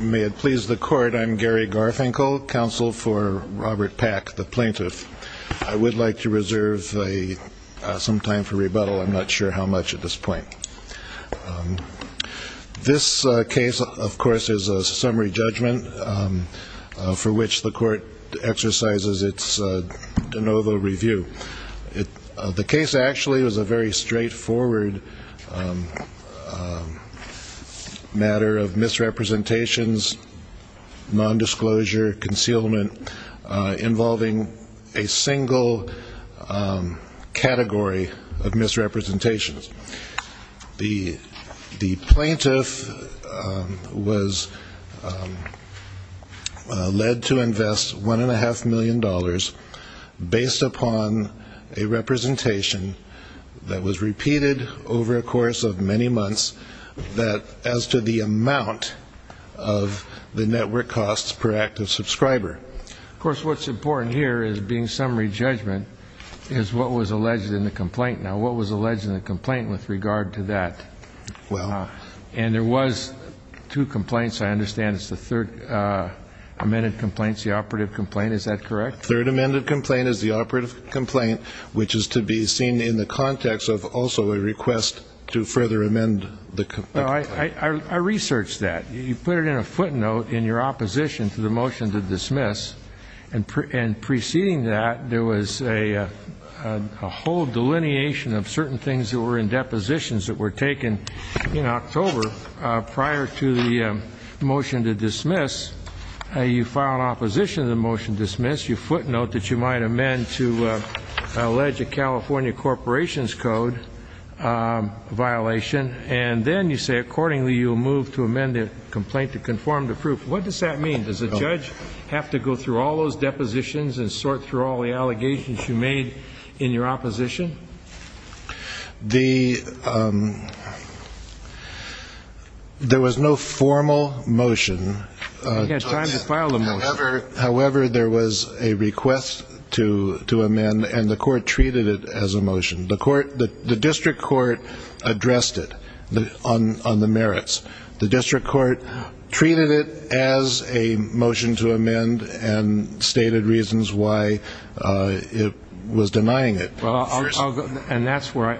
May it please the court, I'm Gary Garfinkel, counsel for Robert Pack, the plaintiff. I would like to reserve some time for rebuttal, I'm not sure how much at this point. This case, of course, is a summary judgment, for which the court exercises its de novo review. The case actually was a very straightforward matter of the court's discretion, misrepresentations, nondisclosure, concealment, involving a single category of misrepresentations. The plaintiff was led to invest $1.5 million, based upon a representation that was repeated over a course of many months, that as to the amount of misrepresentations, the plaintiff was able to cover. The only thing that is not mentioned in the review is the amount of the network costs per active subscriber. Of course, what's important here, as being summary judgment, is what was alleged in the complaint. Now, what was alleged in the complaint with regard to that? And there was two complaints, I understand, it's the third amended complaint, it's the operative complaint, is that correct? Third amended complaint is the operative complaint, which is to be seen in the context of also a request to further amend the complaint. I researched that. You put it in a footnote in your opposition to the motion to dismiss, and preceding that, there was a whole delineation of certain things that were in depositions that were taken in October prior to the motion to dismiss. You file an opposition to the motion to dismiss, you footnote that you might amend to allege a California corporation's code violation, and then you say accordingly you'll move to amend the complaint to conform to proof. What does that mean? Does the judge have to go through all those depositions and sort through all the allegations you made in your opposition? There was no formal motion, however there was a request to amend, and the court treated it as a motion. The district court addressed it on the merits. The district court treated it as a motion to amend and stated reasons why it was denying it. And that's why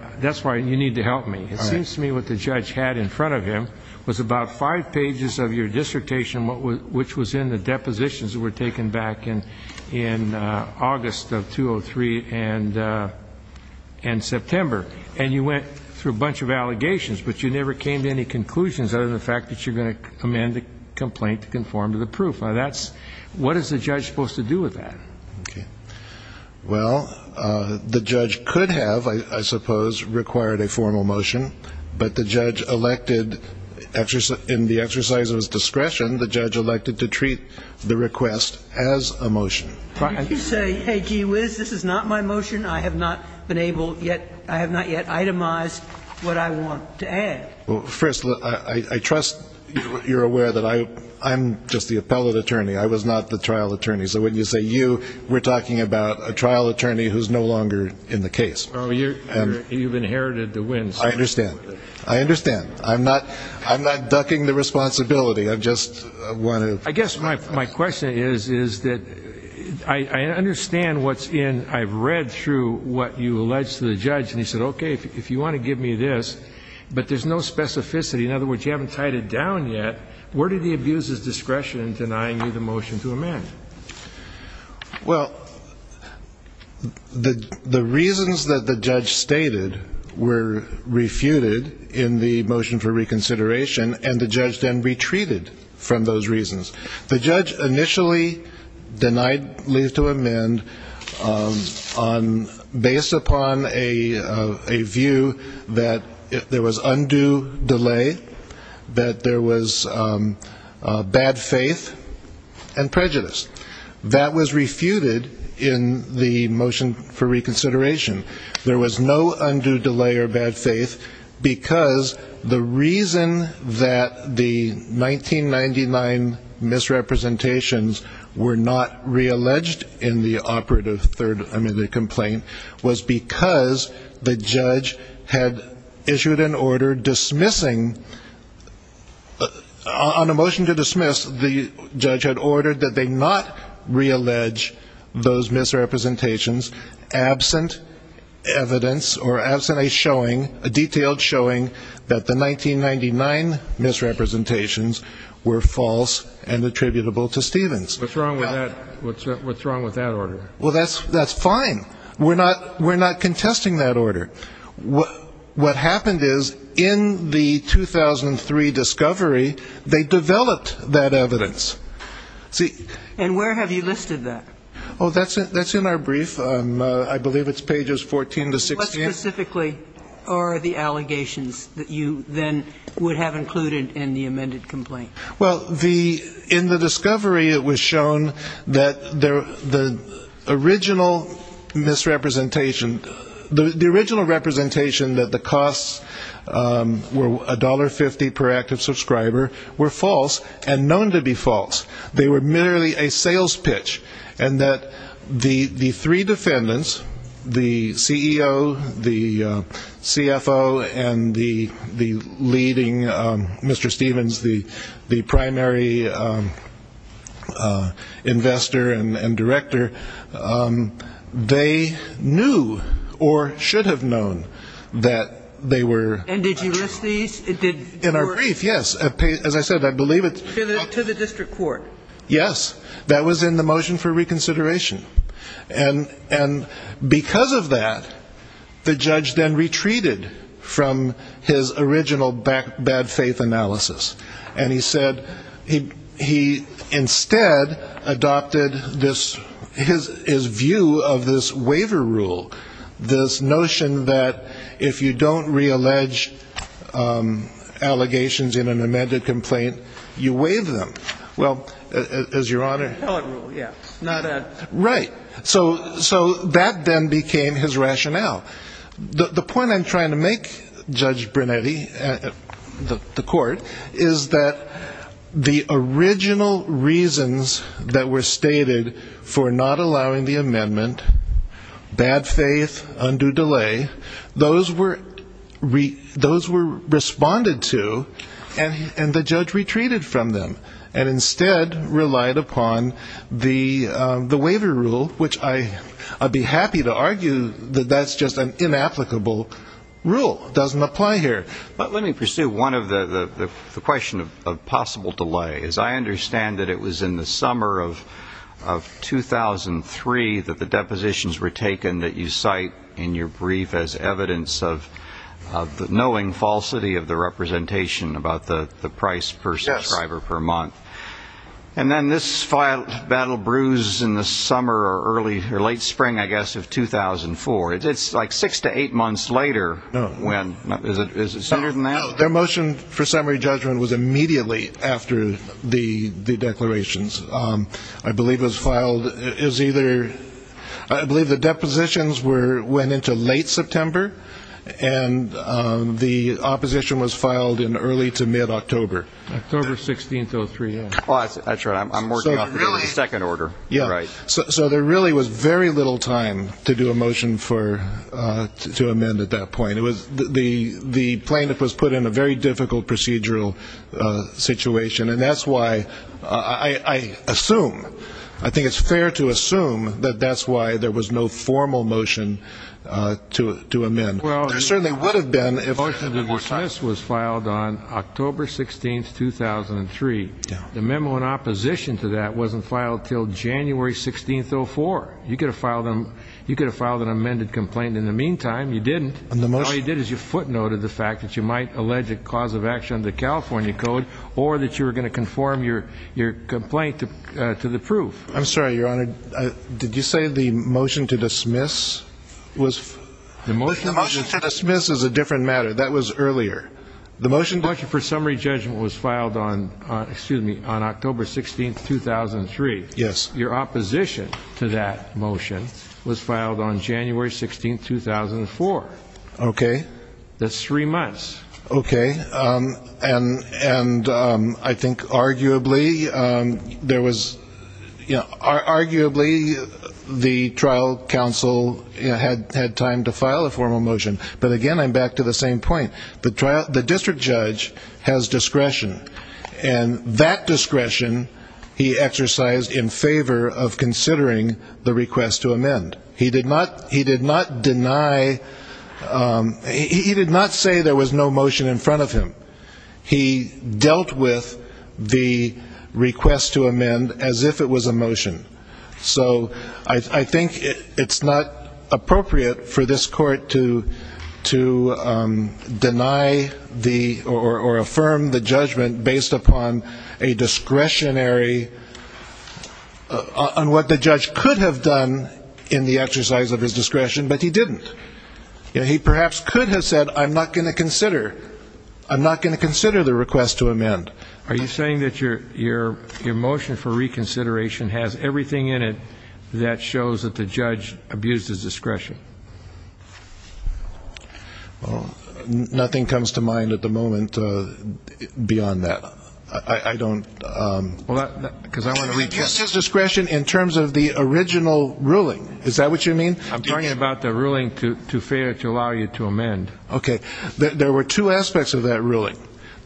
you need to help me. It seems to me what the judge had in front of him was about five pages of your dissertation, which was in the depositions that were taken back in August of 2003 and September. And you went through a bunch of allegations, but you never came to any conclusions other than the fact that you're going to amend the complaint to conform to the proof. What is the judge supposed to do with that? Well, the judge could have, I suppose, required a formal motion, but the judge elected in the exercise of his discretion, the judge elected to treat the request as a motion. Did you say, hey, gee whiz, this is not my motion? I have not been able yet, I have not yet itemized what I want to add. First, I trust you're aware that I'm just the appellate attorney. I was not the trial attorney. So when you say you, we're talking about a trial attorney who's no longer in the case. You've inherited the wins. I understand. I understand. I'm not ducking the responsibility. I just want to I guess my question is, is that I understand what's in I've read through what you alleged to the judge. And he said, OK, if you want to give me this, but there's no specificity. In other words, you haven't tied it down yet. Where did he abuse his discretion in denying you the motion to amend? Well, the the reasons that the judge stated were refuted in the motion for reconsideration. And the judge then retreated from those reasons. The judge initially denied leave to amend on based upon a view that there was undue delay, that there was bad faith and prejudice. That was refuted in the motion for reconsideration. There was no undue delay or bad faith because the reason that the 1999 misrepresentations were not realleged in the operative third I mean, the complaint was because the judge had issued an order dismissing on a motion to dismiss. The judge had ordered that they not reallege those misrepresentations absent evidence or absent a showing a detailed showing that the 1999 misrepresentations were false and attributable to Stevens. What's wrong with that? What's wrong with that order? Well, that's that's fine. We're not we're not contesting that order. What happened is in the 2003 discovery, they developed that evidence. And where have you listed that? Oh, that's that's in our brief. I believe it's pages 14 to 16. What specifically are the allegations that you then would have included in the amended complaint? Well, the in the discovery, it was shown that the original misrepresentation, the original misrepresentation was that the original misrepresentation that the costs were $1.50 per active subscriber were false and known to be false. They were merely a sales pitch, and that the three defendants, the CEO, the CFO and the leading Mr. Stevens, the primary investor and director, they knew or should have known that they were true. And did you list these? In our brief, yes. As I said, I believe it's To the district court. Yes. That was in the motion for reconsideration. And because of that, the judge then retreated from his original bad faith analysis. And he said he he instead adopted this his his view of this waiver rule. This notion that if you don't reallege allegations in an amended complaint, you waive them. Well, as your honor. Yeah, not right. So so that then became his rationale. The point I'm trying to make, Judge Brunetti, the court, is that the original reasons that were stated for not allowing the amendment, bad faith, undue delay, those were those were responded to. And and the judge retreated from them and instead relied upon the the waiver rule, which I I'd be happy to argue that that's just not true. It's just an inapplicable rule doesn't apply here. But let me pursue one of the question of possible delay, as I understand that it was in the summer of of 2003 that the depositions were taken that you cite in your brief as evidence of the knowing falsity of the representation about the price per subscriber per month. And then this file battle bruise in the summer or early or late spring, I guess, of 2004. It's like six to eight months later. When is it? Is it sooner than that? Their motion for summary judgment was immediately after the declarations, I believe, was filed is either. I believe the depositions were went into late September and the opposition was filed in early to mid-October. October 16th. Oh, three. That's right. I'm working on a second order. Yeah. Right. So there really was very little time to do a motion for to amend at that point. It was the the plaintiff was put in a very difficult procedural situation. And that's why I assume I think it's fair to assume that that's why there was no formal motion to to amend. Well, there certainly would have been if this was filed on October 16th, 2003. The memo in opposition to that wasn't filed till January 16th. So for you could have filed them, you could have filed an amended complaint. In the meantime, you didn't. And the most you did is you footnoted the fact that you might allege a cause of action, the California code, or that you were going to conform your your complaint to the proof. I'm sorry, Your Honor. Did you say the motion to dismiss was the motion to dismiss is a different matter. That was earlier. The motion for summary judgment was filed on excuse me, on October 16th, 2003. Yes. Your opposition to that motion was filed on January 16th, 2004. Okay. That's three months. Okay. And and I think arguably there was arguably the trial counsel had had time to file a formal motion. But again, I'm back to the same point. But the district judge has discretion. And that discretion he exercised in favor of considering the request to amend. He did not he did not deny he did not say there was no motion in front of him. He dealt with the request to amend as if it was a motion. So I think it's not appropriate for this court to to deny the or affirm the judgment based upon a discretionary on what the judge could have done in the exercise of his discretion, but he didn't. He perhaps could have said I'm not going to consider I'm not going to consider the request to amend. Are you saying that your your your motion for reconsideration has everything in it that shows that the judge abused his discretion? Well, nothing comes to mind at the moment beyond that. I don't because I want to read this discretion in terms of the original ruling. Is that what you mean? I'm talking about the ruling to to fail to allow you to amend. OK, there were two aspects of that ruling.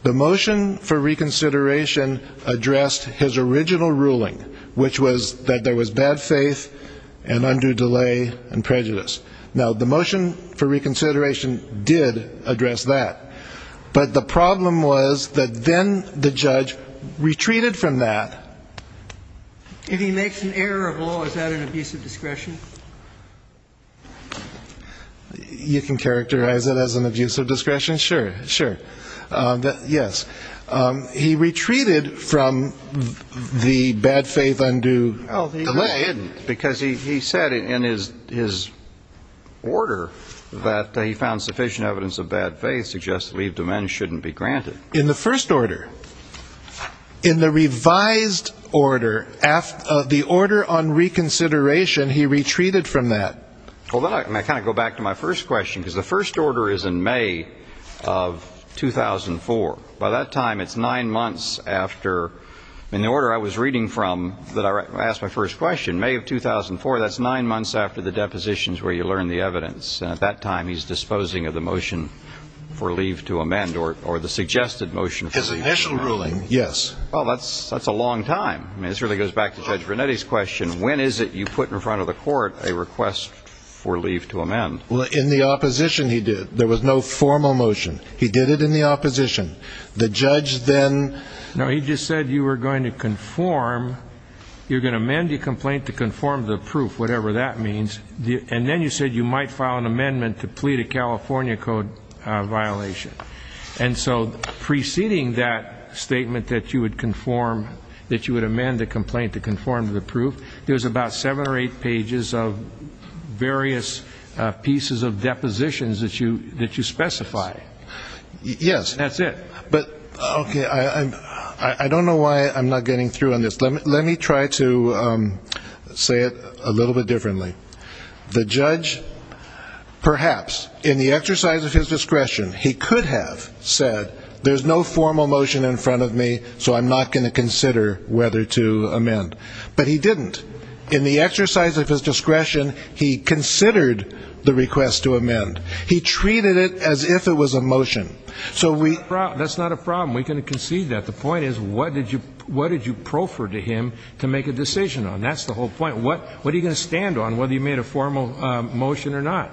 The motion for reconsideration addressed his original ruling, which was that there was bad faith and undue delay and prejudice. Now, the motion for reconsideration did address that. But the problem was that then the judge retreated from that. If he makes an error of law, is that an abuse of discretion? You can characterize it as an abuse of discretion. Sure, sure. Yes. He retreated from the bad faith. Undue delay. Because he said in his his order that he found sufficient evidence of bad faith suggests leave to men shouldn't be granted in the first order. In the revised order, the order on reconsideration, he retreated from that. Well, then I kind of go back to my first question because the first order is in May of 2004. By that time, it's nine months after in the order I was reading from that I asked my first question, May of 2004. That's nine months after the depositions where you learn the evidence. At that time, he's disposing of the motion for leave to amend or or the suggested motion. His initial ruling. Yes. Well, that's that's a long time. I mean, this really goes back to Judge Vernetti's question. When is it you put in front of the court a request for leave to amend? Well, in the opposition, he did. There was no formal motion. He did it in the opposition. The judge then. No, he just said you were going to conform. You're going to amend your complaint to conform to the proof, whatever that means. And then you said you might file an amendment to plead a California code violation. And so preceding that statement that you would conform that you would amend the complaint to conform to the proof, there was about seven or eight pages of various pieces of depositions that you that you specify. Yes, that's it. But OK, I don't know why I'm not getting through on this. Let me let me try to say it a little bit differently. The judge, perhaps in the exercise of his discretion, he could have said there's no formal motion in front of me, so I'm not going to consider whether to amend. But he didn't. In the exercise of his discretion, he considered the request to amend. He treated it as if it was a motion. So we. That's not a problem. We can concede that the point is, what did you what did you proffer to him to make a decision on? That's the whole point. What what are you going to stand on? Whether you made a formal motion or not,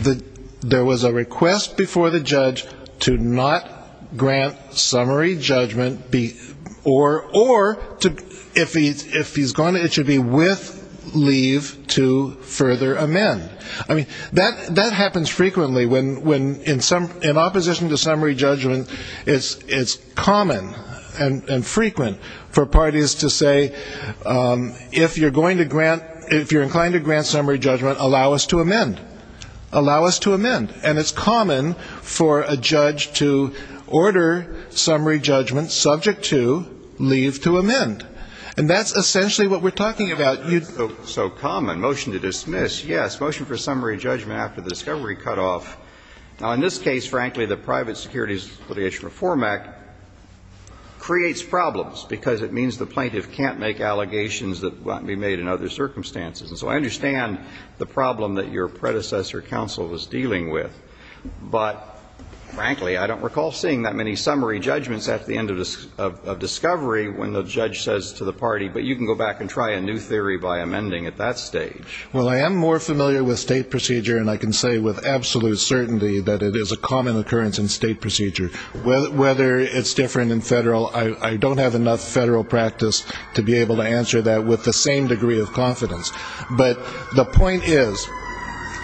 that there was a request before the judge to not grant summary judgment, be or or to if he's if he's gone, it should be with leave to further amend. I mean, that that happens frequently when when in some in opposition to summary judgment, it's it's common and frequent for parties to say if you're going to grant if you're inclined to grant summary judgment, allow us to amend, allow us to amend. And it's common for a judge to order summary judgment subject to leave to amend. And that's essentially what we're talking about. So common motion to dismiss. Yes. Motion for summary judgment after the discovery cut off. Now, in this case, frankly, the private securities litigation reform act. Creates problems because it means the plaintiff can't make allegations that might be made in other circumstances. And so I understand the problem that your predecessor counsel was dealing with. But frankly, I don't recall seeing that many summary judgments at the end of discovery when the judge says to the party, but you can go back and try a new theory by amending at that stage. Well, I am more familiar with state procedure. And I can say with absolute certainty that it is a common occurrence in state procedure. Whether it's different in federal, I don't have enough federal practice to be able to answer that with the same degree of confidence. But the point is,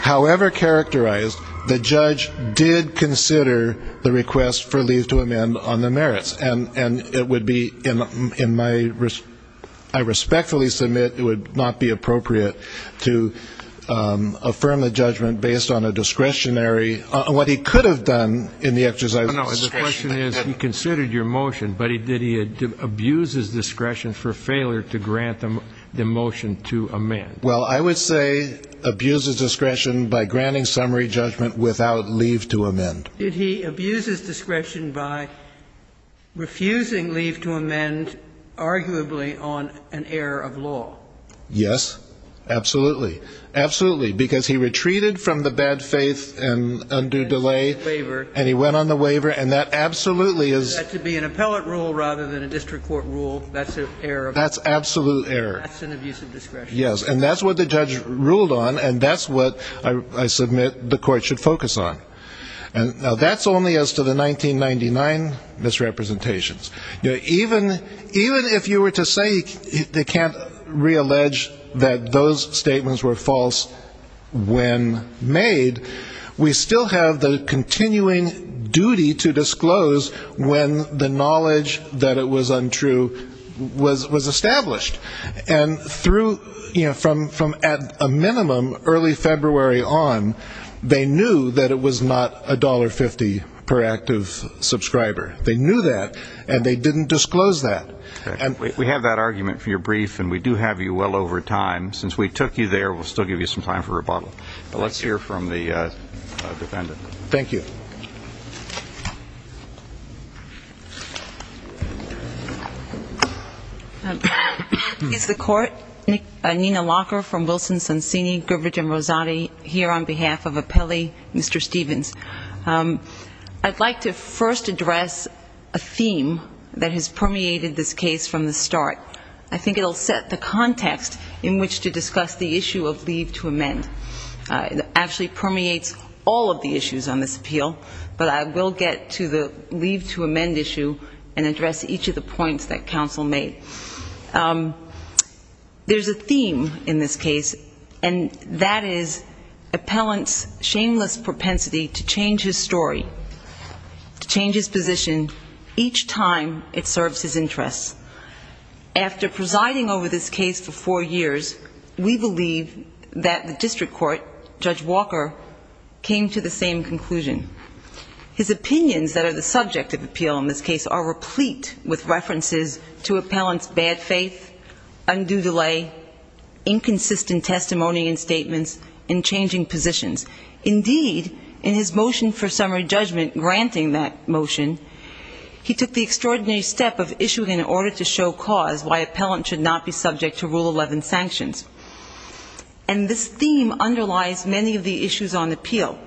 however characterized, the judge did consider the request for leave to amend on the merits. And it would be in my, I respectfully submit it would not be appropriate to affirm the judgment based on a discretionary, what he could have done in the exercise of discretion. The question is, he considered your motion, but did he abuse his discretion for failure to grant the motion to amend? Well, I would say abuse his discretion by granting summary judgment without leave to amend. Did he abuse his discretion by refusing leave to amend arguably on an error of law? Yes. Absolutely. Absolutely. Because he retreated from the bad faith and undue delay. And he went on the waiver. And he went on the waiver. And that absolutely is. That could be an appellate rule rather than a district court rule. That's an error. That's absolute error. That's an abuse of discretion. Yes. And that's what the judge ruled on. And that's what I submit the Court should focus on. And that's only as to the 1999 misrepresentations. Even if you were to say they can't reallege that those statements were false when made, we still have the continuing duty to disclose when the knowledge that it was untrue was established. And through, you know, from at a minimum early February on, they knew that it was not $1.50 per active subscriber. They knew that. And they didn't disclose that. We have that argument for your brief. And we do have you well over time. Since we took you there, we'll still give you some time for rebuttal. Let's hear from the defendant. Thank you. Is the Court? Nina Locker from Wilson, Sonsini, Griffith, and Rosati here on behalf of appellee Mr. Stevens. I'd like to first address a theme that has permeated this case from the start. I think it will set the context in which to discuss the issue of leave to amend. It actually permeates all of the issues on this appeal. But I will get to the leave to amend issue and address each of the points that counsel made. There's a theme in this case, and that is appellant's shameless propensity to change his story, to change his position each time it serves his interests. After presiding over this case for four years, we believe that the district court, Judge Walker, came to the same conclusion. His opinions that are the subject of appeal in this case are replete with references to appellant's bad faith, undue delay, inconsistent testimony and statements, and changing positions. Indeed, in his motion for summary judgment granting that motion, he took the extraordinary step of issuing an order to show cause why appellant should not be subject to Rule 11 sanctions. And this theme underlies many of the issues on appeal.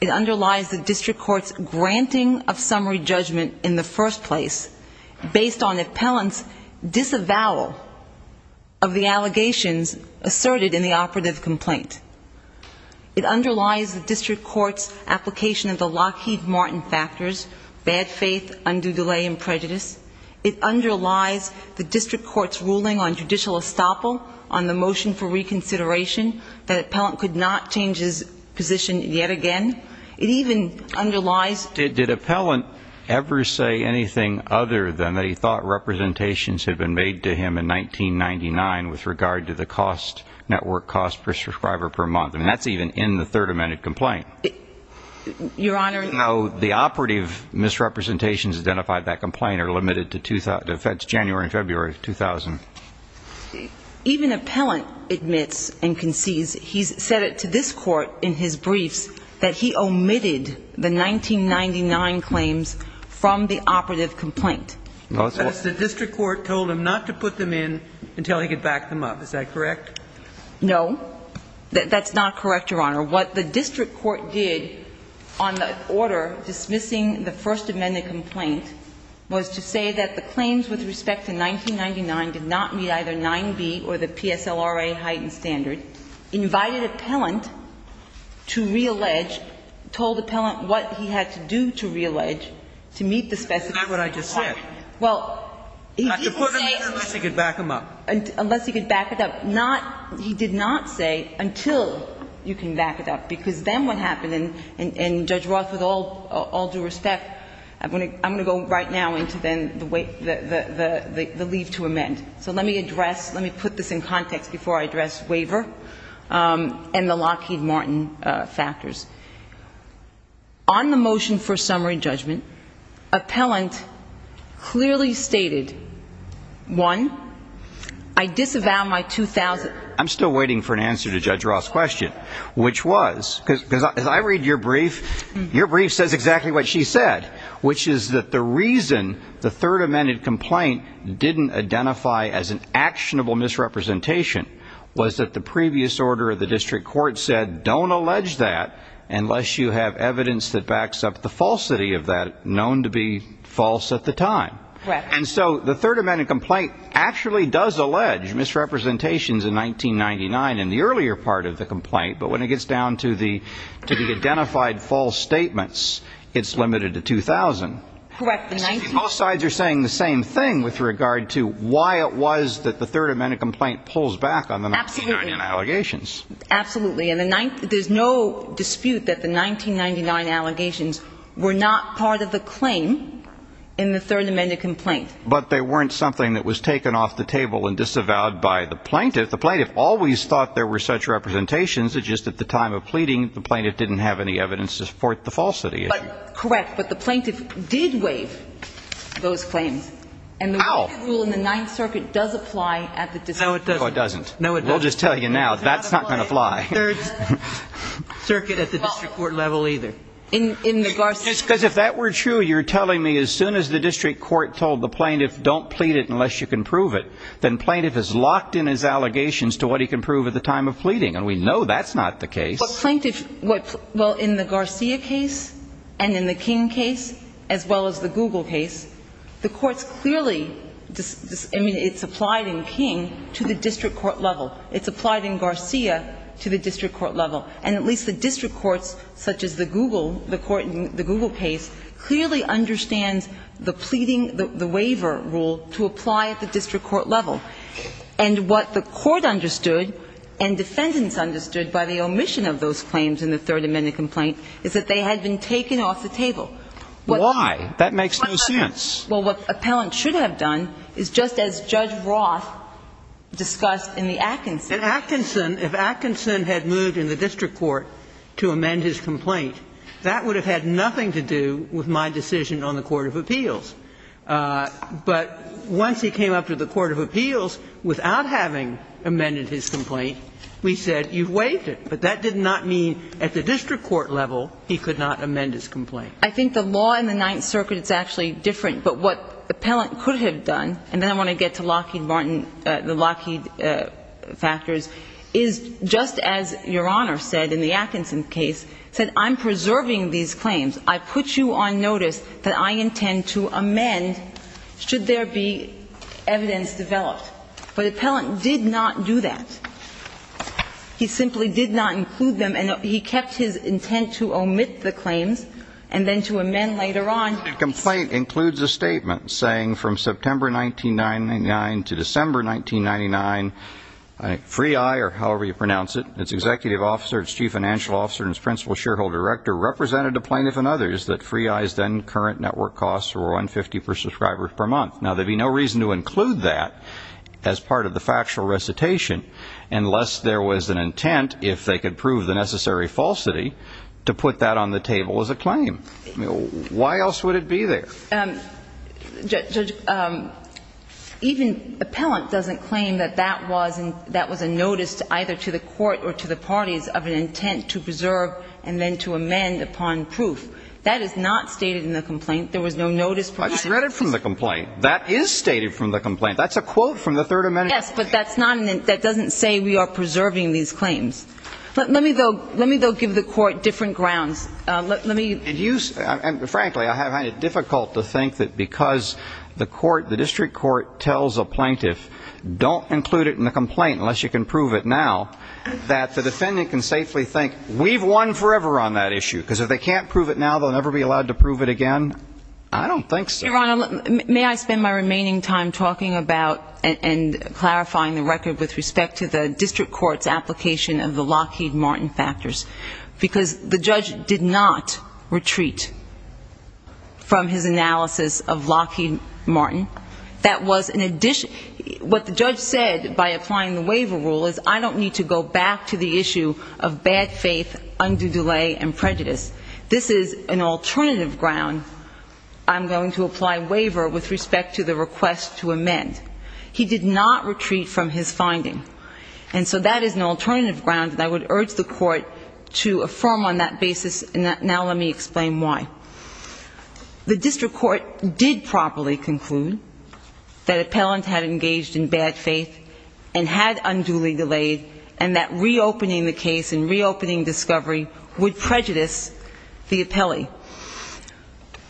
It underlies the district court's granting of summary judgment in the first place, based on appellant's disavowal of the allegations asserted in the operative complaint. It underlies the district court's application of the Lockheed Martin factors, bad faith, undue delay and prejudice. It underlies the district court's ruling on judicial estoppel, on the motion for reconsideration, that appellant could not change his position yet again. It even underlies... Did appellant ever say anything other than that he thought representations had been made to him in 1999 with regard to the network cost per subscriber per month? I mean, that's even in the third amended complaint. Your Honor... No, the operative misrepresentations identified in that complaint are limited to January and February of 2000. Even appellant admits and concedes, he's said it to this court in his briefs, that he omitted the 1999 claims from the operative complaint. The district court told him not to put them in until he could back them up. Is that correct? No. That's not correct, Your Honor. What the district court did on the order dismissing the first amended complaint was to say that the claims with respect to 1999 did not meet either 9B or the PSLRA heightened standard, invited appellant to reallege, told appellant what he had to do to reallege, to meet the specific... That's not what I just said. Well, he didn't say... Not to put them in unless he could back them up. Unless he could back it up. He did not say until you can back it up, because then what happened, and Judge Roth, with all due respect, I'm going to go right now into then the leave to amend. So let me address, let me put this in context before I address waiver and the Lockheed Martin factors. On the motion for summary judgment, appellant clearly stated, one, I disavow my 2000... I'm still waiting for an answer to Judge Roth's question, which was, because as I read your brief, your brief says exactly what she said, which is that the reason the third amended complaint didn't identify as an actionable misrepresentation was that the previous order of the district court said don't allege that unless you have evidence that backs up the falsity of that known to be false at the time. And so the third amended complaint actually does allege misrepresentations in 1999 in the earlier part of the complaint, but when it gets down to the identified false statements, it's limited to 2000. Correct. Most sides are saying the same thing with regard to why it was that the third amended complaint pulls back on the 1999 allegations. Absolutely. And the ninth, there's no dispute that the 1999 allegations were not part of the claim in the third amended complaint. But they weren't something that was taken off the table and disavowed by the plaintiff. The plaintiff always thought there were such representations that just at the time of pleading, the plaintiff didn't have any evidence to support the falsity. Correct. But the plaintiff did waive those claims. And the rule in the ninth circuit does apply at the district court. No, it doesn't. No, it doesn't. I can just tell you now, that's not going to fly. Third circuit at the district court level either. Because if that were true, you're telling me as soon as the district court told the plaintiff don't plead it unless you can prove it, then plaintiff is locked in his allegations to what he can prove at the time of pleading. And we know that's not the case. Well, in the Garcia case and in the King case, as well as the Google case, the court's clearly, I mean, it's applied in King to the district court level. It's applied in Garcia to the district court level. And at least the district courts, such as the Google case, clearly understands the pleading, the waiver rule to apply at the district court level. And what the court understood and defendants understood by the omission of those claims in the Third Amendment complaint is that they had been taken off the table. Why? That makes no sense. Well, what appellant should have done is just as Judge Roth discussed in the Atkinson. In Atkinson, if Atkinson had moved in the district court to amend his complaint, that would have had nothing to do with my decision on the court of appeals. But once he came up to the court of appeals without having amended his complaint, we said you've waived it. But that did not mean at the district court level he could not amend his complaint. I think the law in the Ninth Circuit is actually different. But what appellant could have done, and then I want to get to Lockheed Martin, the Lockheed factors, is just as Your Honor said in the Atkinson case, said I'm preserving these claims. I put you on notice that I intend to amend should there be evidence developed. But appellant did not do that. He simply did not include them. And he kept his intent to omit the claims and then to amend later on. The complaint includes a statement saying from September 1999 to December 1999, Free Eye, or however you pronounce it, its executive officer, its chief financial officer, and its principal shareholder director represented the plaintiff and others that Free Eye's then current network costs were $150 per subscriber per month. Now, there would be no reason to include that as part of the factual recitation unless there was an intent, if they could prove the necessary falsity, to put that on the table as a claim. Why else would it be there? Judge, even appellant doesn't claim that that was a notice either to the court or to the parties of an intent to preserve and then to amend upon proof. That is not stated in the complaint. There was no notice provided. I just read it from the complaint. That is stated from the complaint. That's a quote from the Third Amendment. Yes, but that doesn't say we are preserving these claims. Let me, though, give the court different grounds. Frankly, I find it difficult to think that because the district court tells a plaintiff, don't include it in the complaint unless you can prove it now, that the defendant can safely think we've won forever on that issue because if they can't prove it now, they'll never be allowed to prove it again. I don't think so. Your Honor, may I spend my remaining time talking about and clarifying the record with respect to the district court's application of the Lockheed Martin factors because the judge did not retreat from his analysis of Lockheed Martin. What the judge said by applying the waiver rule is I don't need to go back to the issue of bad faith, undue delay, and prejudice. This is an alternative ground. I'm going to apply waiver with respect to the request to amend. He did not retreat from his finding. And so that is an alternative ground that I would urge the court to affirm on that basis, and now let me explain why. The district court did properly conclude that appellant had engaged in bad faith and had unduly delayed and that reopening the case and reopening discovery would prejudice the appellee.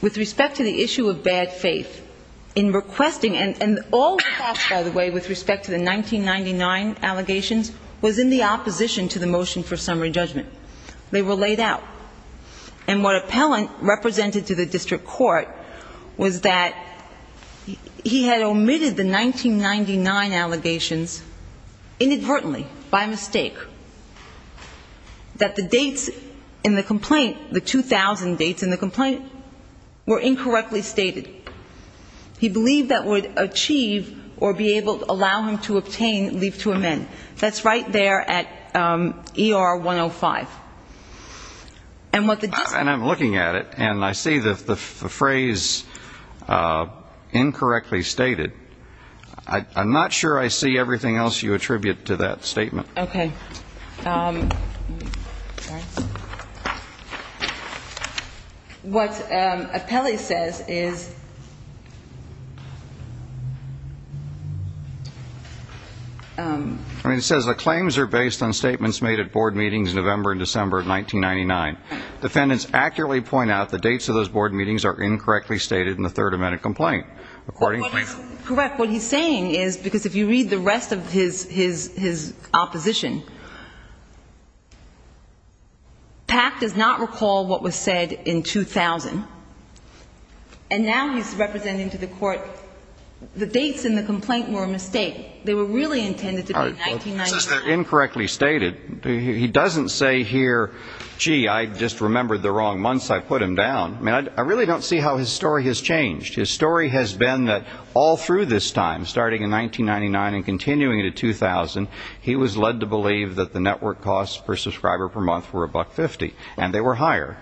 With respect to the issue of bad faith, in requesting, and all requests, by the way, with respect to the 1999 allegations, was in the opposition to the motion for summary judgment. They were laid out. And what appellant represented to the district court was that he had omitted the 1999 allegations inadvertently, by mistake, that the dates in the complaint, the 2000 dates in the complaint, were incorrectly stated. He believed that would achieve or be able to allow him to obtain leave to amend. That's right there at ER 105. And I'm looking at it, and I see the phrase incorrectly stated. I'm not sure I see everything else you attribute to that statement. Okay. What appellee says is the claims are based on statements made at board meetings November and December of 1999. Defendants accurately point out the dates of those board meetings are incorrectly stated in the third amendment complaint. Correct. What he's saying is, because if you read the rest of his opposition, PAC does not recall what was said in 2000. And now he's representing to the court the dates in the complaint were a mistake. They were really intended to be 1999. Since they're incorrectly stated, he doesn't say here, gee, I just remembered the wrong months. I put them down. I mean, I really don't see how his story has changed. His story has been that all through this time, starting in 1999 and continuing to 2000, he was led to believe that the network costs per subscriber per month were $1.50, and they were higher.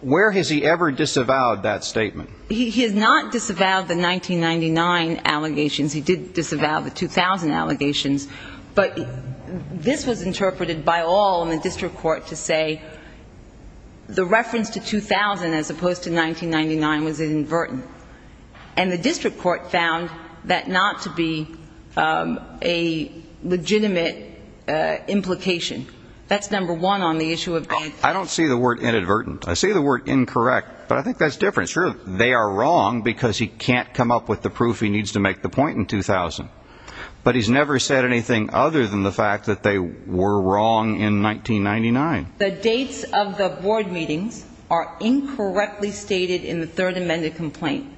Where has he ever disavowed that statement? He has not disavowed the 1999 allegations. He did disavow the 2000 allegations. But this was interpreted by all in the district court to say the reference to 2000 as opposed to 1999 was inadvertent. And the district court found that not to be a legitimate implication. That's number one on the issue of dates. I don't see the word inadvertent. I see the word incorrect. But I think that's different. Sure, they are wrong because he can't come up with the proof he needs to make the point in 2000. But he's never said anything other than the fact that they were wrong in 1999. The dates of the board meetings are incorrectly stated in the third amended complaint.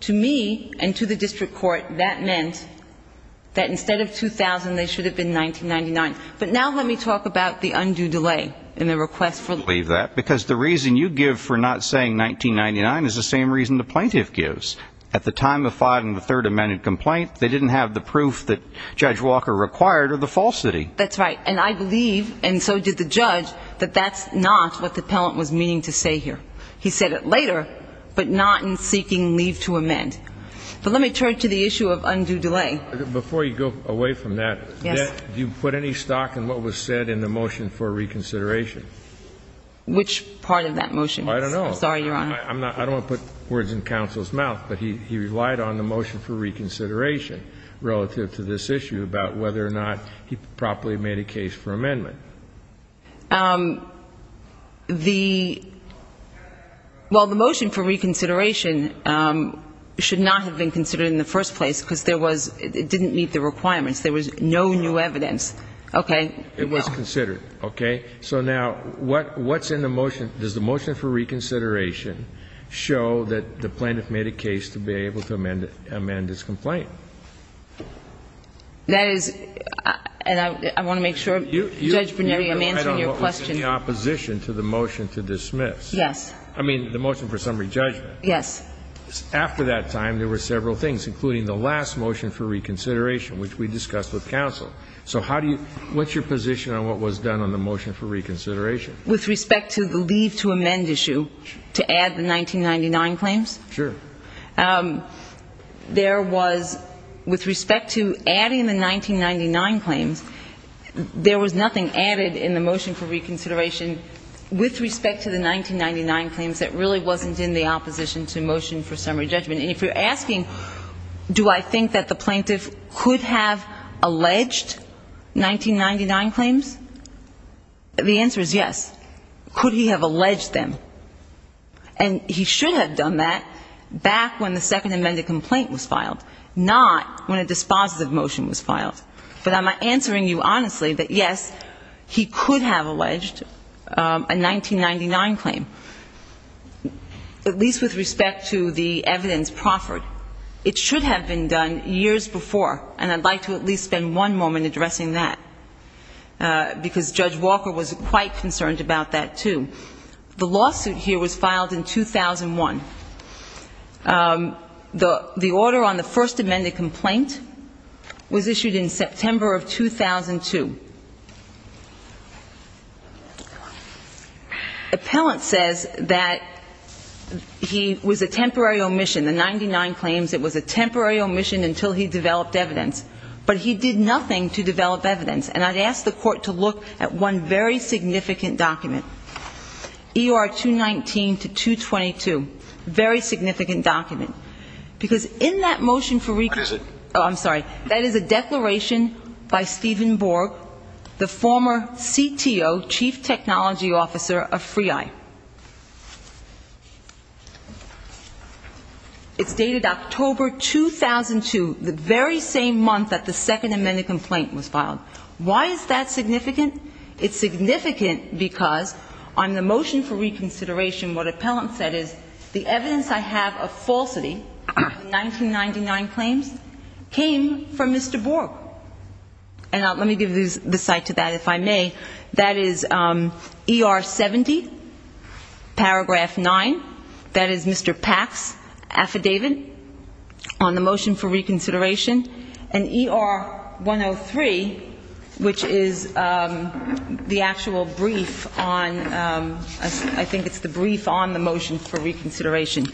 To me, and to the district court, that meant that instead of 2000, they should have been 1999. But now let me talk about the undue delay in the request for leave. Because the reason you give for not saying 1999 is the same reason the plaintiff gives. At the time of filing the third amended complaint, they didn't have the proof that Judge Walker required or the falsity. That's right. And I believe, and so did the judge, that that's not what the appellant was meaning to say here. He said it later, but not in seeking leave to amend. But let me turn to the issue of undue delay. Before you go away from that, do you put any stock in what was said in the motion for reconsideration? I don't know. Sorry, Your Honor. I don't want to put words in counsel's mouth, but he relied on the motion for reconsideration relative to this issue about whether or not he properly made a case for amendment. The, well, the motion for reconsideration should not have been considered in the first place because there was, it didn't meet the requirements. There was no new evidence. Okay. It was considered. Okay. So now, what's in the motion? Does the motion for reconsideration show that the plaintiff made a case to be able to amend this complaint? That is, and I want to make sure, Judge Bernieri, I'm answering your question. I don't know what was in the opposition to the motion to dismiss. Yes. I mean, the motion for summary judgment. Yes. After that time, there were several things, including the last motion for reconsideration, which we discussed with counsel. So how do you, what's your position on what was done on the motion for reconsideration? With respect to the leave to amend issue, to add the 1999 claims? Sure. There was, with respect to adding the 1999 claims, there was nothing added in the motion for reconsideration with respect to the 1999 claims that really wasn't in the opposition to motion for summary judgment. And if you're asking, do I think that the plaintiff could have alleged 1999 claims, the answer is yes. Could he have alleged them? And he should have done that back when the second amended complaint was filed, not when a dispositive motion was filed. But I'm answering you honestly that, yes, he could have alleged a 1999 claim, at least with respect to the evidence proffered. It should have been done years before. And I'd like to at least spend one moment addressing that, because Judge Walker was quite concerned about that, too. The lawsuit here was filed in 2001. The order on the first amended complaint was issued in September of 2002. Appellant says that he was a temporary omission. The 99 claims, it was a temporary omission until he developed evidence. But he did nothing to develop evidence. And I'd ask the Court to look at one very significant document, ER 219 to 222, very significant document. Because in that motion for reconsideration ‑‑ What is it? Oh, I'm sorry. That is a declaration by Stephen Borg, the former CTO, chief technology officer of Free Eye. It's dated October 2002, the very same month that the second amended complaint was filed. Why is that significant? It's significant because on the motion for reconsideration, what appellant said is, the evidence I have of falsity, 1999 claims, came from Mr. Borg. And let me give the cite to that, if I may. That is ER 70, paragraph 9. That is Mr. Pack's affidavit on the motion for reconsideration. And ER 103, which is the actual brief on ‑‑ I think it's the brief on the motion for reconsideration.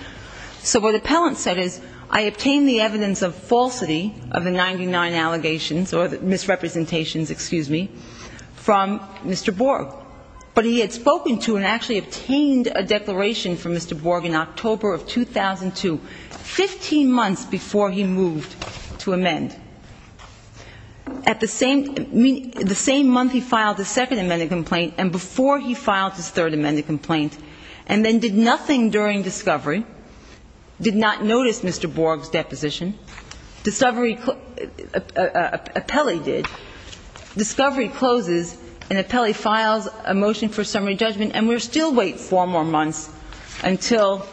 So what appellant said is, I obtained the evidence of falsity of the 99 allegations, or misrepresentations, excuse me, from Mr. Borg. But he had spoken to and actually obtained a declaration from Mr. Borg in October of 2002, 15 months before he moved to amend. At the same ‑‑ the same month he filed the second amended complaint and before he filed his third amended complaint, and then did nothing during discovery, did not notice Mr. Borg's deposition, discovery ‑‑ appellee did, discovery closes, and appellee files a motion for summary judgment, and we still wait four more months until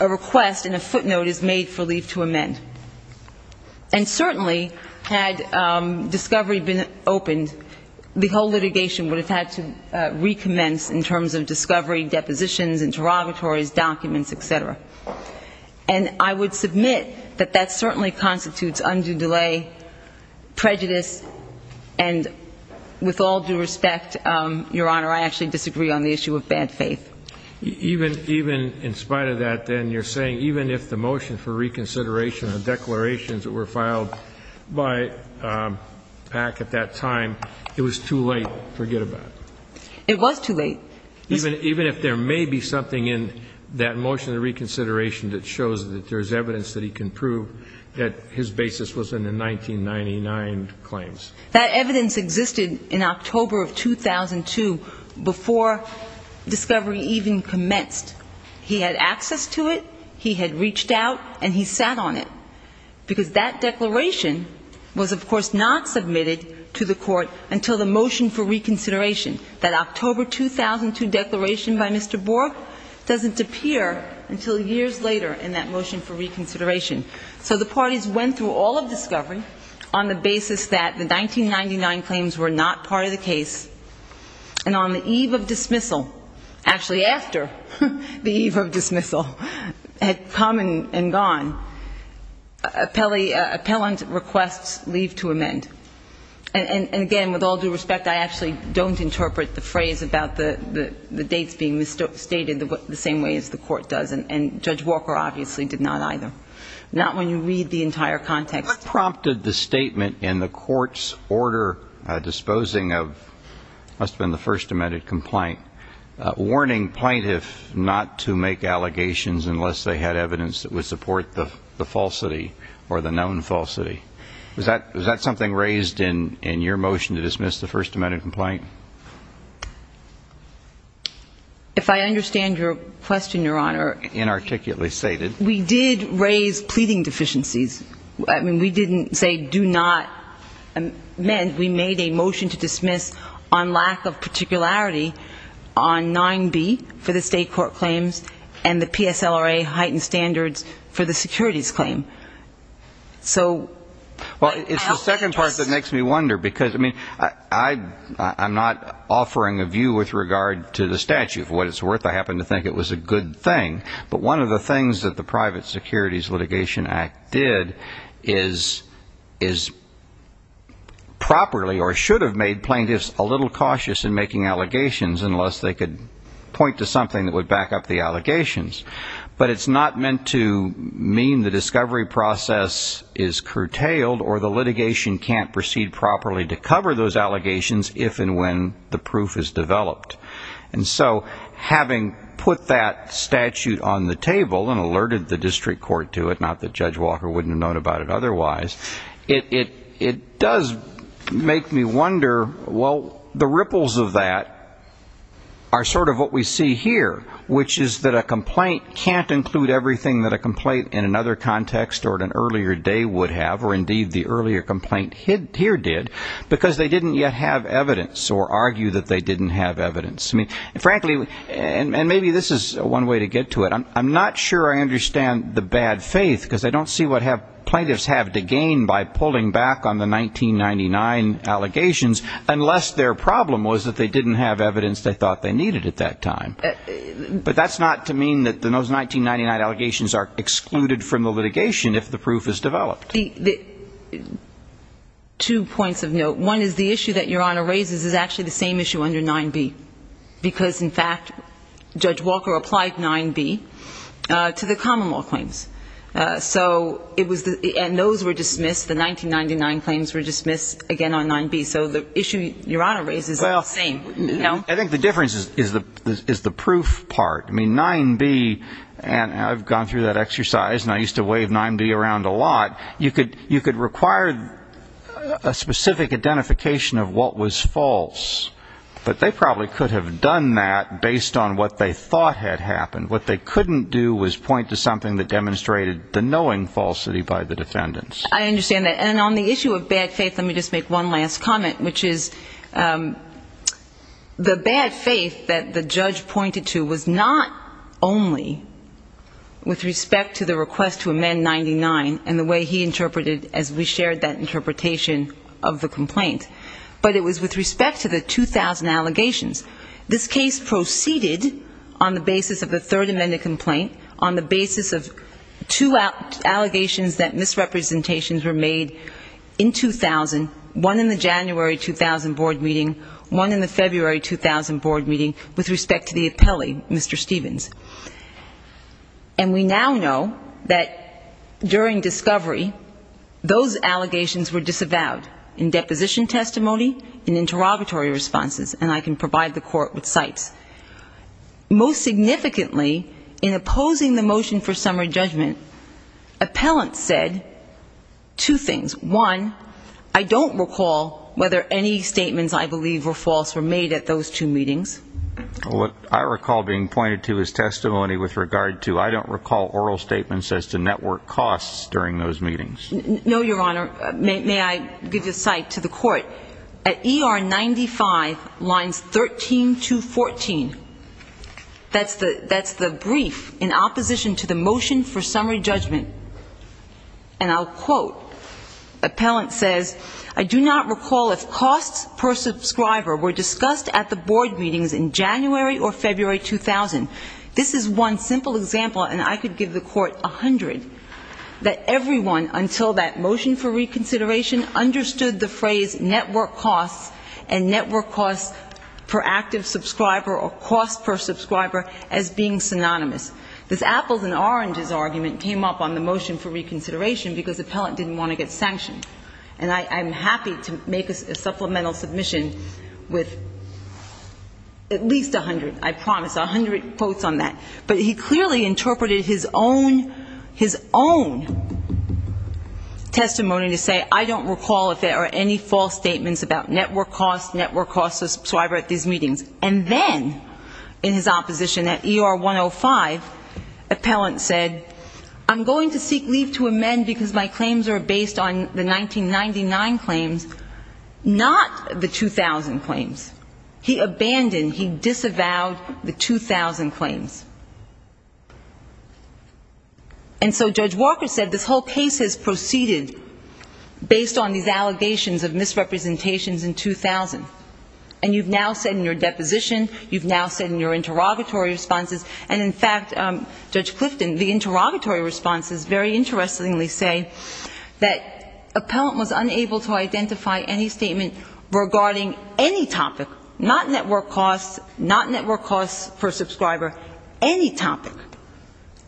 a request and a footnote is made for leave to amend. And certainly, had discovery been opened, the whole litigation would have had to recommence in terms of discovery, deposition, and interrogatories, documents, et cetera. And I would submit that that certainly constitutes undue delay, prejudice, and with all due respect, Your Honor, I actually disagree on the issue of bad faith. Even in spite of that, then, you're saying even if the motion for reconsideration of declarations that were filed by PAC at that time, it was too late, forget about it. It was too late. Even if there may be something in that motion of reconsideration that shows that there's evidence that he can prove that his basis was in the 1999 claims. That evidence existed in October of 2002, before discovery even commenced. He had access to it, he had reached out, and he sat on it, because that declaration was, of course, not submitted to the court until the motion for reconsideration. And that October 2002 declaration by Mr. Bork doesn't appear until years later in that motion for reconsideration. So the parties went through all of discovery on the basis that the 1999 claims were not part of the case, and on the eve of dismissal, actually after the eve of dismissal, had come and gone, appellant requests leave to amend. And again, with all due respect, I actually don't interpret the first part of the motion. I don't interpret the phrase about the dates being stated the same way as the court does, and Judge Walker obviously did not either. Not when you read the entire context. What prompted the statement in the court's order disposing of what must have been the First Amendment complaint, warning plaintiffs not to make allegations unless they had evidence that would support the falsity or the known falsity? Was that something raised in your motion to dismiss the First Amendment complaint? If I understand your question, Your Honor, we did raise pleading deficiencies. I mean, we didn't say do not amend. We made a motion to dismiss on lack of particularity on 9B for the state court claims and the PSLRA heightened standards for the securities claim. Well, it's the second part that makes me wonder, because, I mean, I'm not offering a view with regard to the statute. For what it's worth, I happen to think it was a good thing. But one of the things that the Private Securities Litigation Act did is properly or should have made plaintiffs a little cautious in making allegations unless they could point to something that would back up the allegations. But it's not meant to mean the discovery process is curtailed or the litigation can't proceed properly to cover those allegations if and when the proof is developed. And so having put that statute on the table and alerted the district court to it, not that Judge Walker wouldn't have known about it otherwise, it does make me wonder, well, the ripples of that are sort of what we see here, which is that a complaint is a complaint. And a complaint can't include everything that a complaint in another context or at an earlier day would have, or indeed the earlier complaint here did, because they didn't yet have evidence or argue that they didn't have evidence. Frankly, and maybe this is one way to get to it, I'm not sure I understand the bad faith, because I don't see what plaintiffs have to gain by pulling back on the 1999 allegations unless their problem was that they didn't have evidence they thought they needed at that time. But that's not to mean that those 1999 allegations are excluded from the litigation if the proof is developed. Two points of note. One is the issue that Your Honor raises is actually the same issue under 9b, because in fact Judge Walker applied 9b to the common law claims. And those were dismissed, the 1999 claims were dismissed again on 9b. So the issue Your Honor raises is the same. I think the difference is the proof part. I mean, 9b, and I've gone through that exercise, and I used to wave 9b around a lot, you could require a specific identification of what was false. But they probably could have done that based on what they thought had happened. What they couldn't do was point to something that demonstrated the knowing falsity by the defendants. I understand that. And on the issue of bad faith, let me just make one last comment, which is, you know, I'm not sure I understand the bad faith. The bad faith that the judge pointed to was not only with respect to the request to amend 99 and the way he interpreted, as we shared that interpretation of the complaint, but it was with respect to the 2000 allegations. This case proceeded on the basis of the third amended complaint, on the basis of two allegations that misrepresentations were made in 2000, one in the January 2000 board meeting, one in the February 2000 board meeting, and one in the January 2000 board meeting. And we now know that during discovery, those allegations were disavowed in deposition testimony, in interrogatory responses. And I can provide the court with sites. Most significantly, in opposing the motion for summary judgment, appellants said two things. One, I don't recall whether any statements I believe were false were made at that time. And two, I don't recall whether any statements I believe were false were made at those two meetings. What I recall being pointed to is testimony with regard to I don't recall oral statements as to network costs during those meetings. No, Your Honor. May I give you a site to the court? At ER 95, lines 13 to 14, that's the brief in opposition to the motion for summary judgment. And I'll quote. Appellant says, I do not recall if costs per subscriber were discussed at the board meetings in January or February 2000. This is one simple example, and I could give the court 100, that everyone until that motion for reconsideration understood the phrase network costs and network costs per active subscriber or costs per subscriber as being synonymous. This apples and oranges argument came up on the motion for reconsideration, because appellant didn't want to get sanctioned. And I'm happy to make a supplemental submission with at least 100, I promise, 100 quotes on that. But he clearly interpreted his own testimony to say, I don't recall if there are any false statements about network costs, network costs per subscriber at these meetings. And then in his opposition at ER 105, appellant said, I'm going to seek leave to amend because my claims are based on the 1999 claims, not the 2000 claims. He abandoned, he disavowed the 2000 claims. And so Judge Walker said this whole case has proceeded based on these allegations of misrepresentations in 2000. And you've now said in your deposition, you've now said in your interrogatory responses, and in fact, Judge Clifton, the interrogatory responses very interestingly say that appellant was unable to identify any statement regarding any topic, not network costs, not network costs for a subscriber, any topic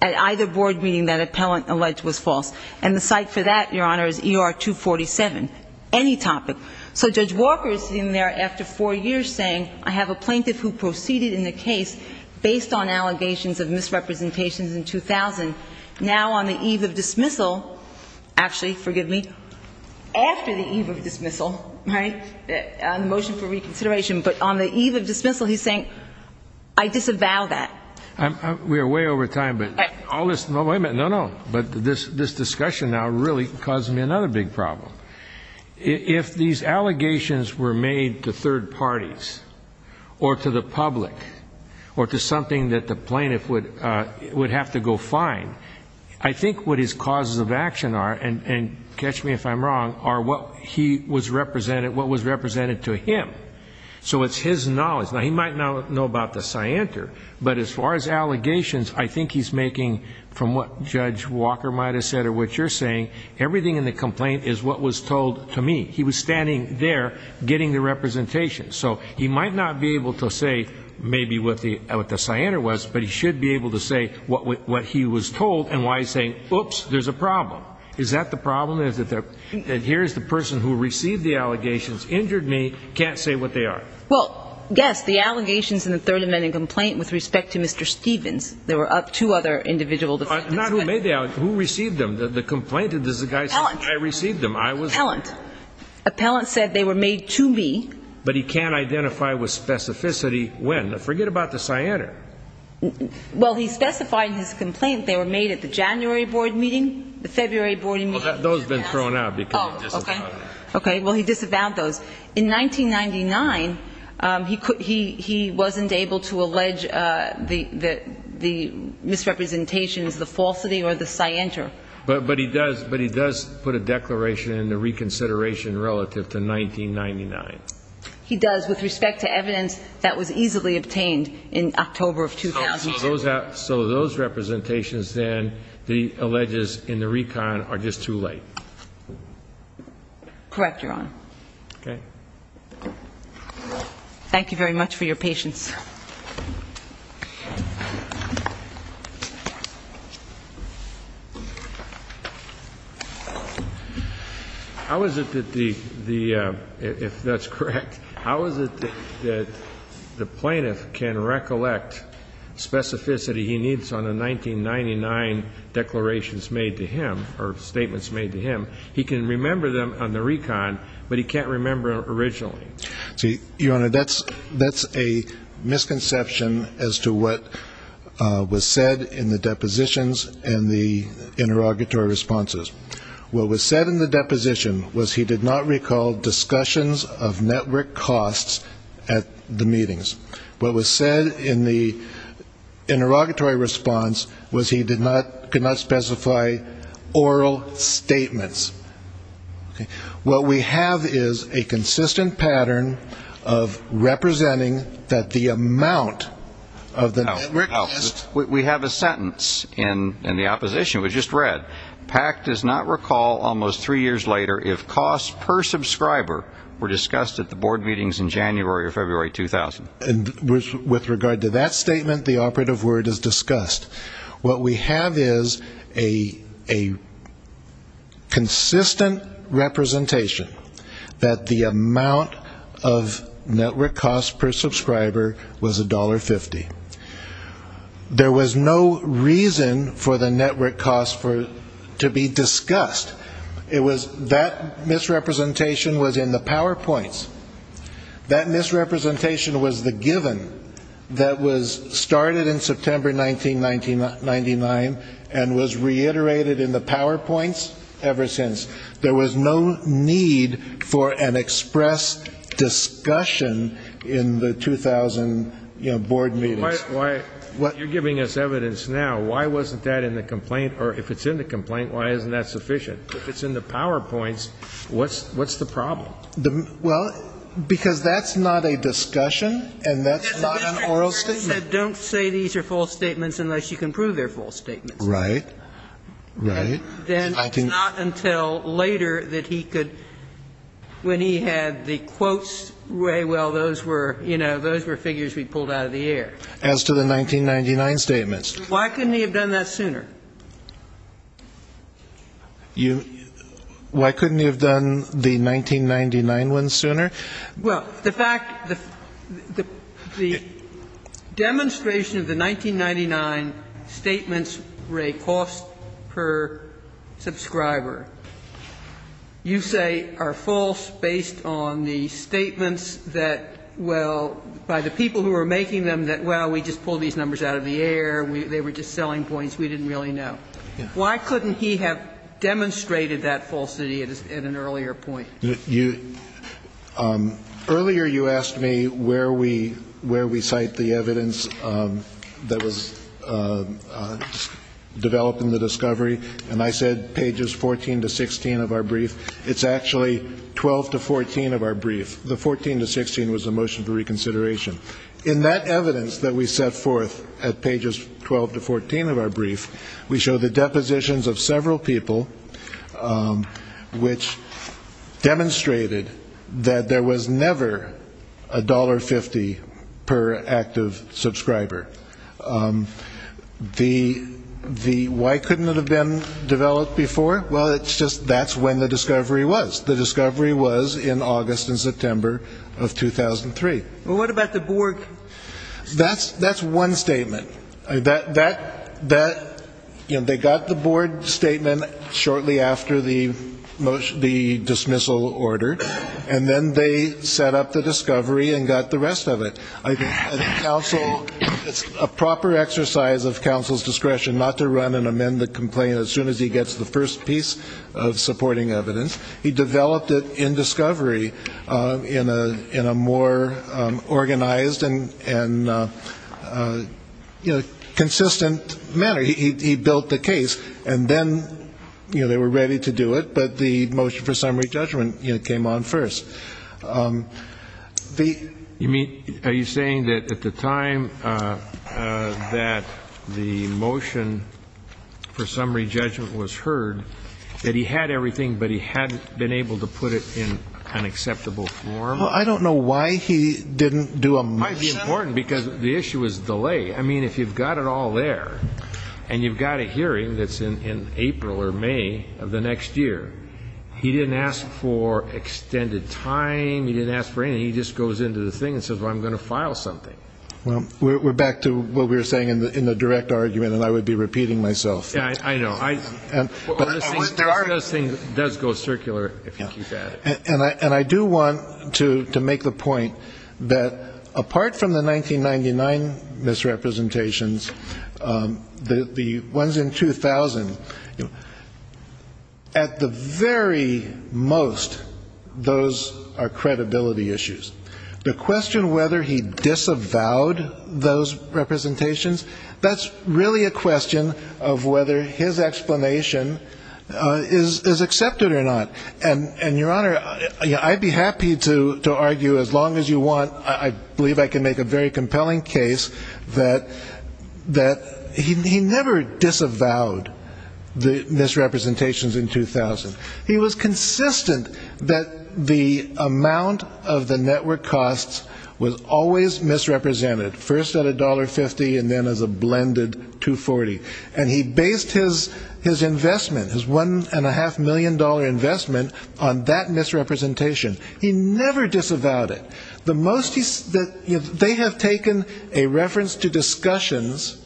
at either board meeting that appellant alleged was false. And the site for that, Your Honor, is ER 247, any topic. So Judge Walker is sitting there after four years saying, I have a plaintiff who proceeded in the case based on allegations of misrepresentations in 2000. Now on the eve of dismissal, actually, forgive me, after the eve of dismissal, right, on the motion for reconsideration, but on the eve of dismissal, he's saying, I disavow that. We are way over time, but I'll listen. No, wait a minute. No, no. But this, this discussion now really caused me another big problem. If these allegations were made to third parties or to the public or to something that the plaintiff would have to go find, I think what his causes of action are, and catch me if I'm wrong, are what he was represented, what was represented to him. So it's his knowledge. Now, he might not know about the scienter, but as far as allegations, I think he's making, from what Judge Walker might have said or what you're saying, everything in the complaint is what was presented to him. He was standing there getting the representation. So he might not be able to say maybe what the scienter was, but he should be able to say what he was told and why he's saying, oops, there's a problem. Is that the problem? Is it that here's the person who received the allegations, injured me, can't say what they are? Well, yes, the allegations in the third amendment complaint with respect to Mr. Stevens, there were two other individual defendants. Not who made the allegations, who received them, the complaint, I received them. Appellant. Appellant said they were made to me. But he can't identify with specificity when. Forget about the scienter. Well, he specified in his complaint they were made at the January board meeting, the February board meeting. Well, those have been thrown out because he disavowed them. Okay, well, he disavowed those. In 1999, he wasn't able to allege the misrepresentations, the falsity or the scienter. But he does put a declaration in the reconsideration relative to 1999. He does with respect to evidence that was easily obtained in October of 2000. So those representations then, the alleges in the recon are just too late. Correct, Your Honor. Okay. Thank you very much for your patience. How is it that the, if that's correct, how is it that the plaintiff can recollect specificity he needs on the 1999 declarations made to him, or statements made to him? He can remember them on the recon, but he can't remember them originally. See, Your Honor, that's a misconception as to what was said in the depositions and the interrogatory responses. What was said in the deposition was he did not recall discussions of network costs at the meetings. What was said in the interrogatory response was he did not, could not specify oral statements. What we have is a consistent pattern of representing that the amount of the network costs. We have a sentence in the opposition, it was just read. Pack does not recall almost three years later if costs per subscriber were discussed at the board meetings in January or February 2000. And with regard to that statement, the operative word is discussed. What we have is a consistent representation that the amount of network costs per subscriber was $1.50. There was no reason for the network costs to be discussed. That misrepresentation was in the PowerPoints. That misrepresentation was the given that was started in September 1999 and was reiterated in the PowerPoints ever since. There was no need for an express discussion in the 2000 board meetings. Why, you're giving us evidence now, why wasn't that in the complaint, or if it's in the complaint, why isn't that sufficient? If it's in the PowerPoints, what's the problem? Well, because that's not a discussion and that's not an oral statement. Don't say these are false statements unless you can prove they're false statements. Right. Right. Then it's not until later that he could, when he had the quotes, well, those were, you know, those were figures we pulled out of the air. As to the 1999 statements. Why couldn't he have done that sooner? You, why couldn't he have done the 1999 ones sooner? Well, the fact, the demonstration of the 1999 statements were a cost per subscriber. You say are false based on the statements that, well, by the people who were making them that, well, we just pulled these numbers out of the air, they were just selling points we didn't really know. Why couldn't he have demonstrated that falsity at an earlier point? You, earlier you asked me where we cite the evidence that was developed in the discovery, and I said pages 14 to 16 of our brief. It's actually 12 to 14 of our brief. The 14 to 16 was the motion for reconsideration. In that evidence that we set forth at pages 12 to 14 of our brief, we show the depositions of several people which demonstrated that there was never a $1.50 per active subscriber. The, the, why couldn't it have been developed before? Well, it's just, that's when the discovery was. The discovery was in August and September of 2003. Well, what about the board? That's, that's one statement. That, that, that, you know, they got the board statement shortly after the motion, the dismissal order, and then they set up the discovery and got the rest of it. I think counsel, it's a proper exercise of counsel's discretion not to run and amend the complaint as soon as he gets the first piece of supporting evidence. He developed it in discovery in a, in a more organized and, and, you know, consistent manner. He, he, he built the case, and then, you know, they were ready to do it, but the motion for summary judgment, you know, came on first. You mean, are you saying that at the time that the motion for summary judgment was heard, that he had everything, but he hadn't been able to put it in an acceptable form? Well, I don't know why he didn't do a motion. It might be important because the issue is delay. I mean, if you've got it all there, and you've got a hearing that's in, in April or May of the next year, he didn't ask for extended time, he didn't ask for anything. He just goes into the thing and says, well, I'm going to file something. Well, we're, we're back to what we were saying in the, in the direct argument, and I would be repeating myself. Yeah, I know. There are. This thing does go circular if you keep at it. And I, and I do want to, to make the point that apart from the 1999 misrepresentations, the, the ones in 2000, at the very most, those are credibility issues. The question whether he disavowed those representations, that's really a question of whether his explanation is, is accepted or not. And, and Your Honor, I'd be happy to, to argue as long as you want. I believe I can make a very compelling case that, that he never disavowed the misrepresentations in 2000. He was consistent that the amount of the network costs was always misrepresented, first at $1.50 and then as a blended $2.40. And he based his, his investment, his $1.5 million investment on that misrepresentation. He never disavowed it. The most he, they have taken a reference to discussions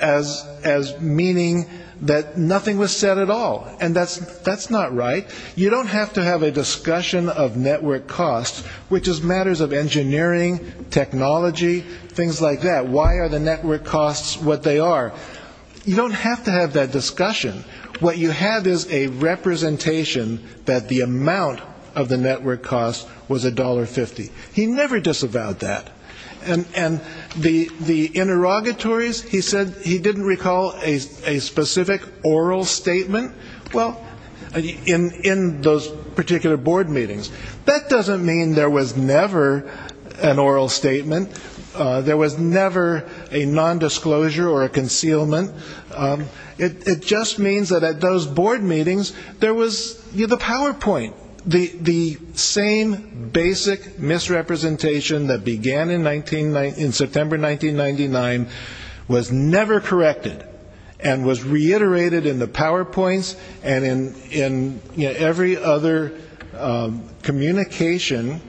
as, as meaning that nothing was said at all. And that's, that's not right. You don't have to have a discussion of network costs, which is matters of engineering, technology, things like that. Why are the network costs what they are? You don't have to have that discussion. What you have is a representation that the amount of the network cost was $1.50. He never disavowed that. And, and the, the interrogatories, he said he didn't recall a, a specific oral statement. Well, in, in those particular board meetings. That doesn't mean there was never an oral statement. There was never a nondisclosure or a concealment. It, it just means that at those board meetings, there was, you know, the PowerPoint. The, the same basic misrepresentation that began in 19, in September 1999 was never corrected. And was reiterated in the PowerPoints and in, in every other communication,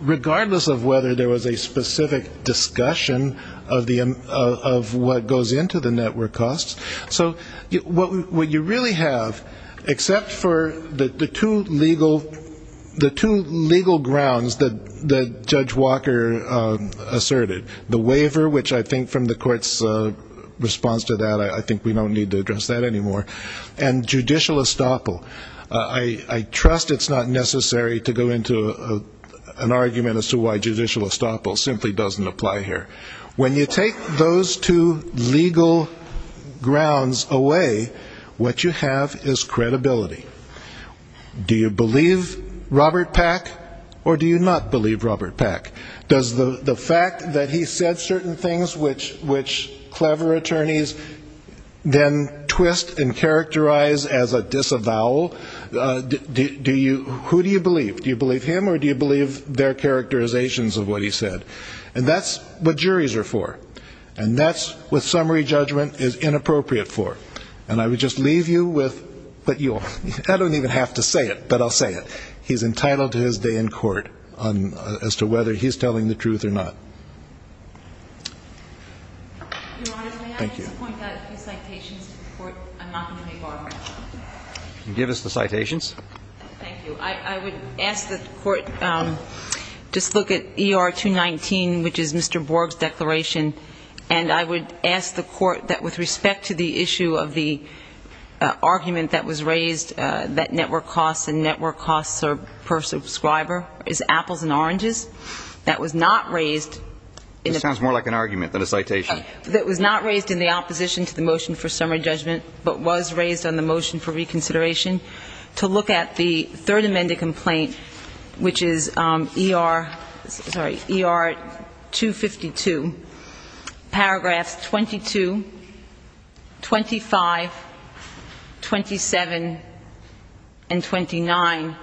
regardless of whether there was a specific discussion of the, of what goes into the network costs. So what, what you really have, except for the, the two legal, the two legal grounds that, that Judge Walker asserted. The waiver, which I think from the court's response to that, I think we don't need to address that anymore. And judicial estoppel. I, I trust it's not necessary to go into an argument as to why judicial estoppel simply doesn't apply here. When you take those two legal grounds away, what you have is credibility. Do you believe Robert Pack, or do you not believe Robert Pack? Does the fact that he said certain things which, which clever attorneys then twist and characterize as a disavowal, do you, who do you believe? Do you believe him, or do you believe their characterizations of what he said? And that's what juries are for. And that's what summary judgment is inappropriate for. And I would just leave you with, but you'll, I don't even have to say it, but I'll say it. He's entitled to his day in court on, as to whether he's telling the truth or not. Thank you. Give us the citations. Thank you. I, I would ask that the court just look at ER 219, which is Mr. Borg's declaration. And I would ask the court that with respect to the issue of the argument that was raised, that network costs and network costs are per subscriber, is apples and oranges. That was not raised. This sounds more like an argument than a citation. That was not raised in the opposition to the motion for summary judgment, but was raised on the motion for reconsideration, to look at the third amended complaint, which is ER, sorry, ER 252. Paragraphs 22, 25, 27, and 29.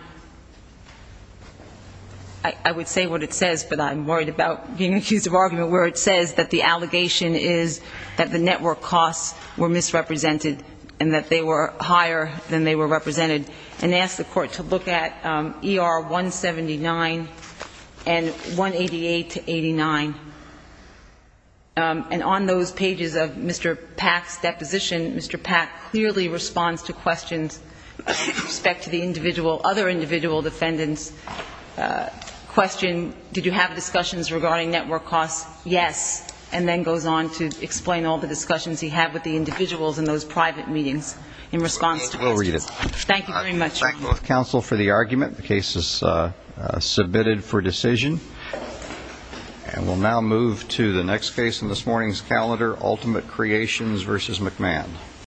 I would say what it says, but I'm worried about being accused of argument where it says that the allegation is that the network costs were misrepresented and that they were higher than they were represented. And ask the court to look at ER 179 and 188 to 89. And on those pages of Mr. Pack's deposition, Mr. Pack clearly responds to questions with respect to the individual, other individual defendants. Question, did you have discussions regarding network costs? Yes. And then goes on to explain all the discussions he had with the individuals in those private meetings in response to questions. We'll read it. Thank you very much. Thank both counsel for the argument. The case is submitted for decision. And we'll now move to the next case in this morning's calendar, Ultimate Creations v. McMahon.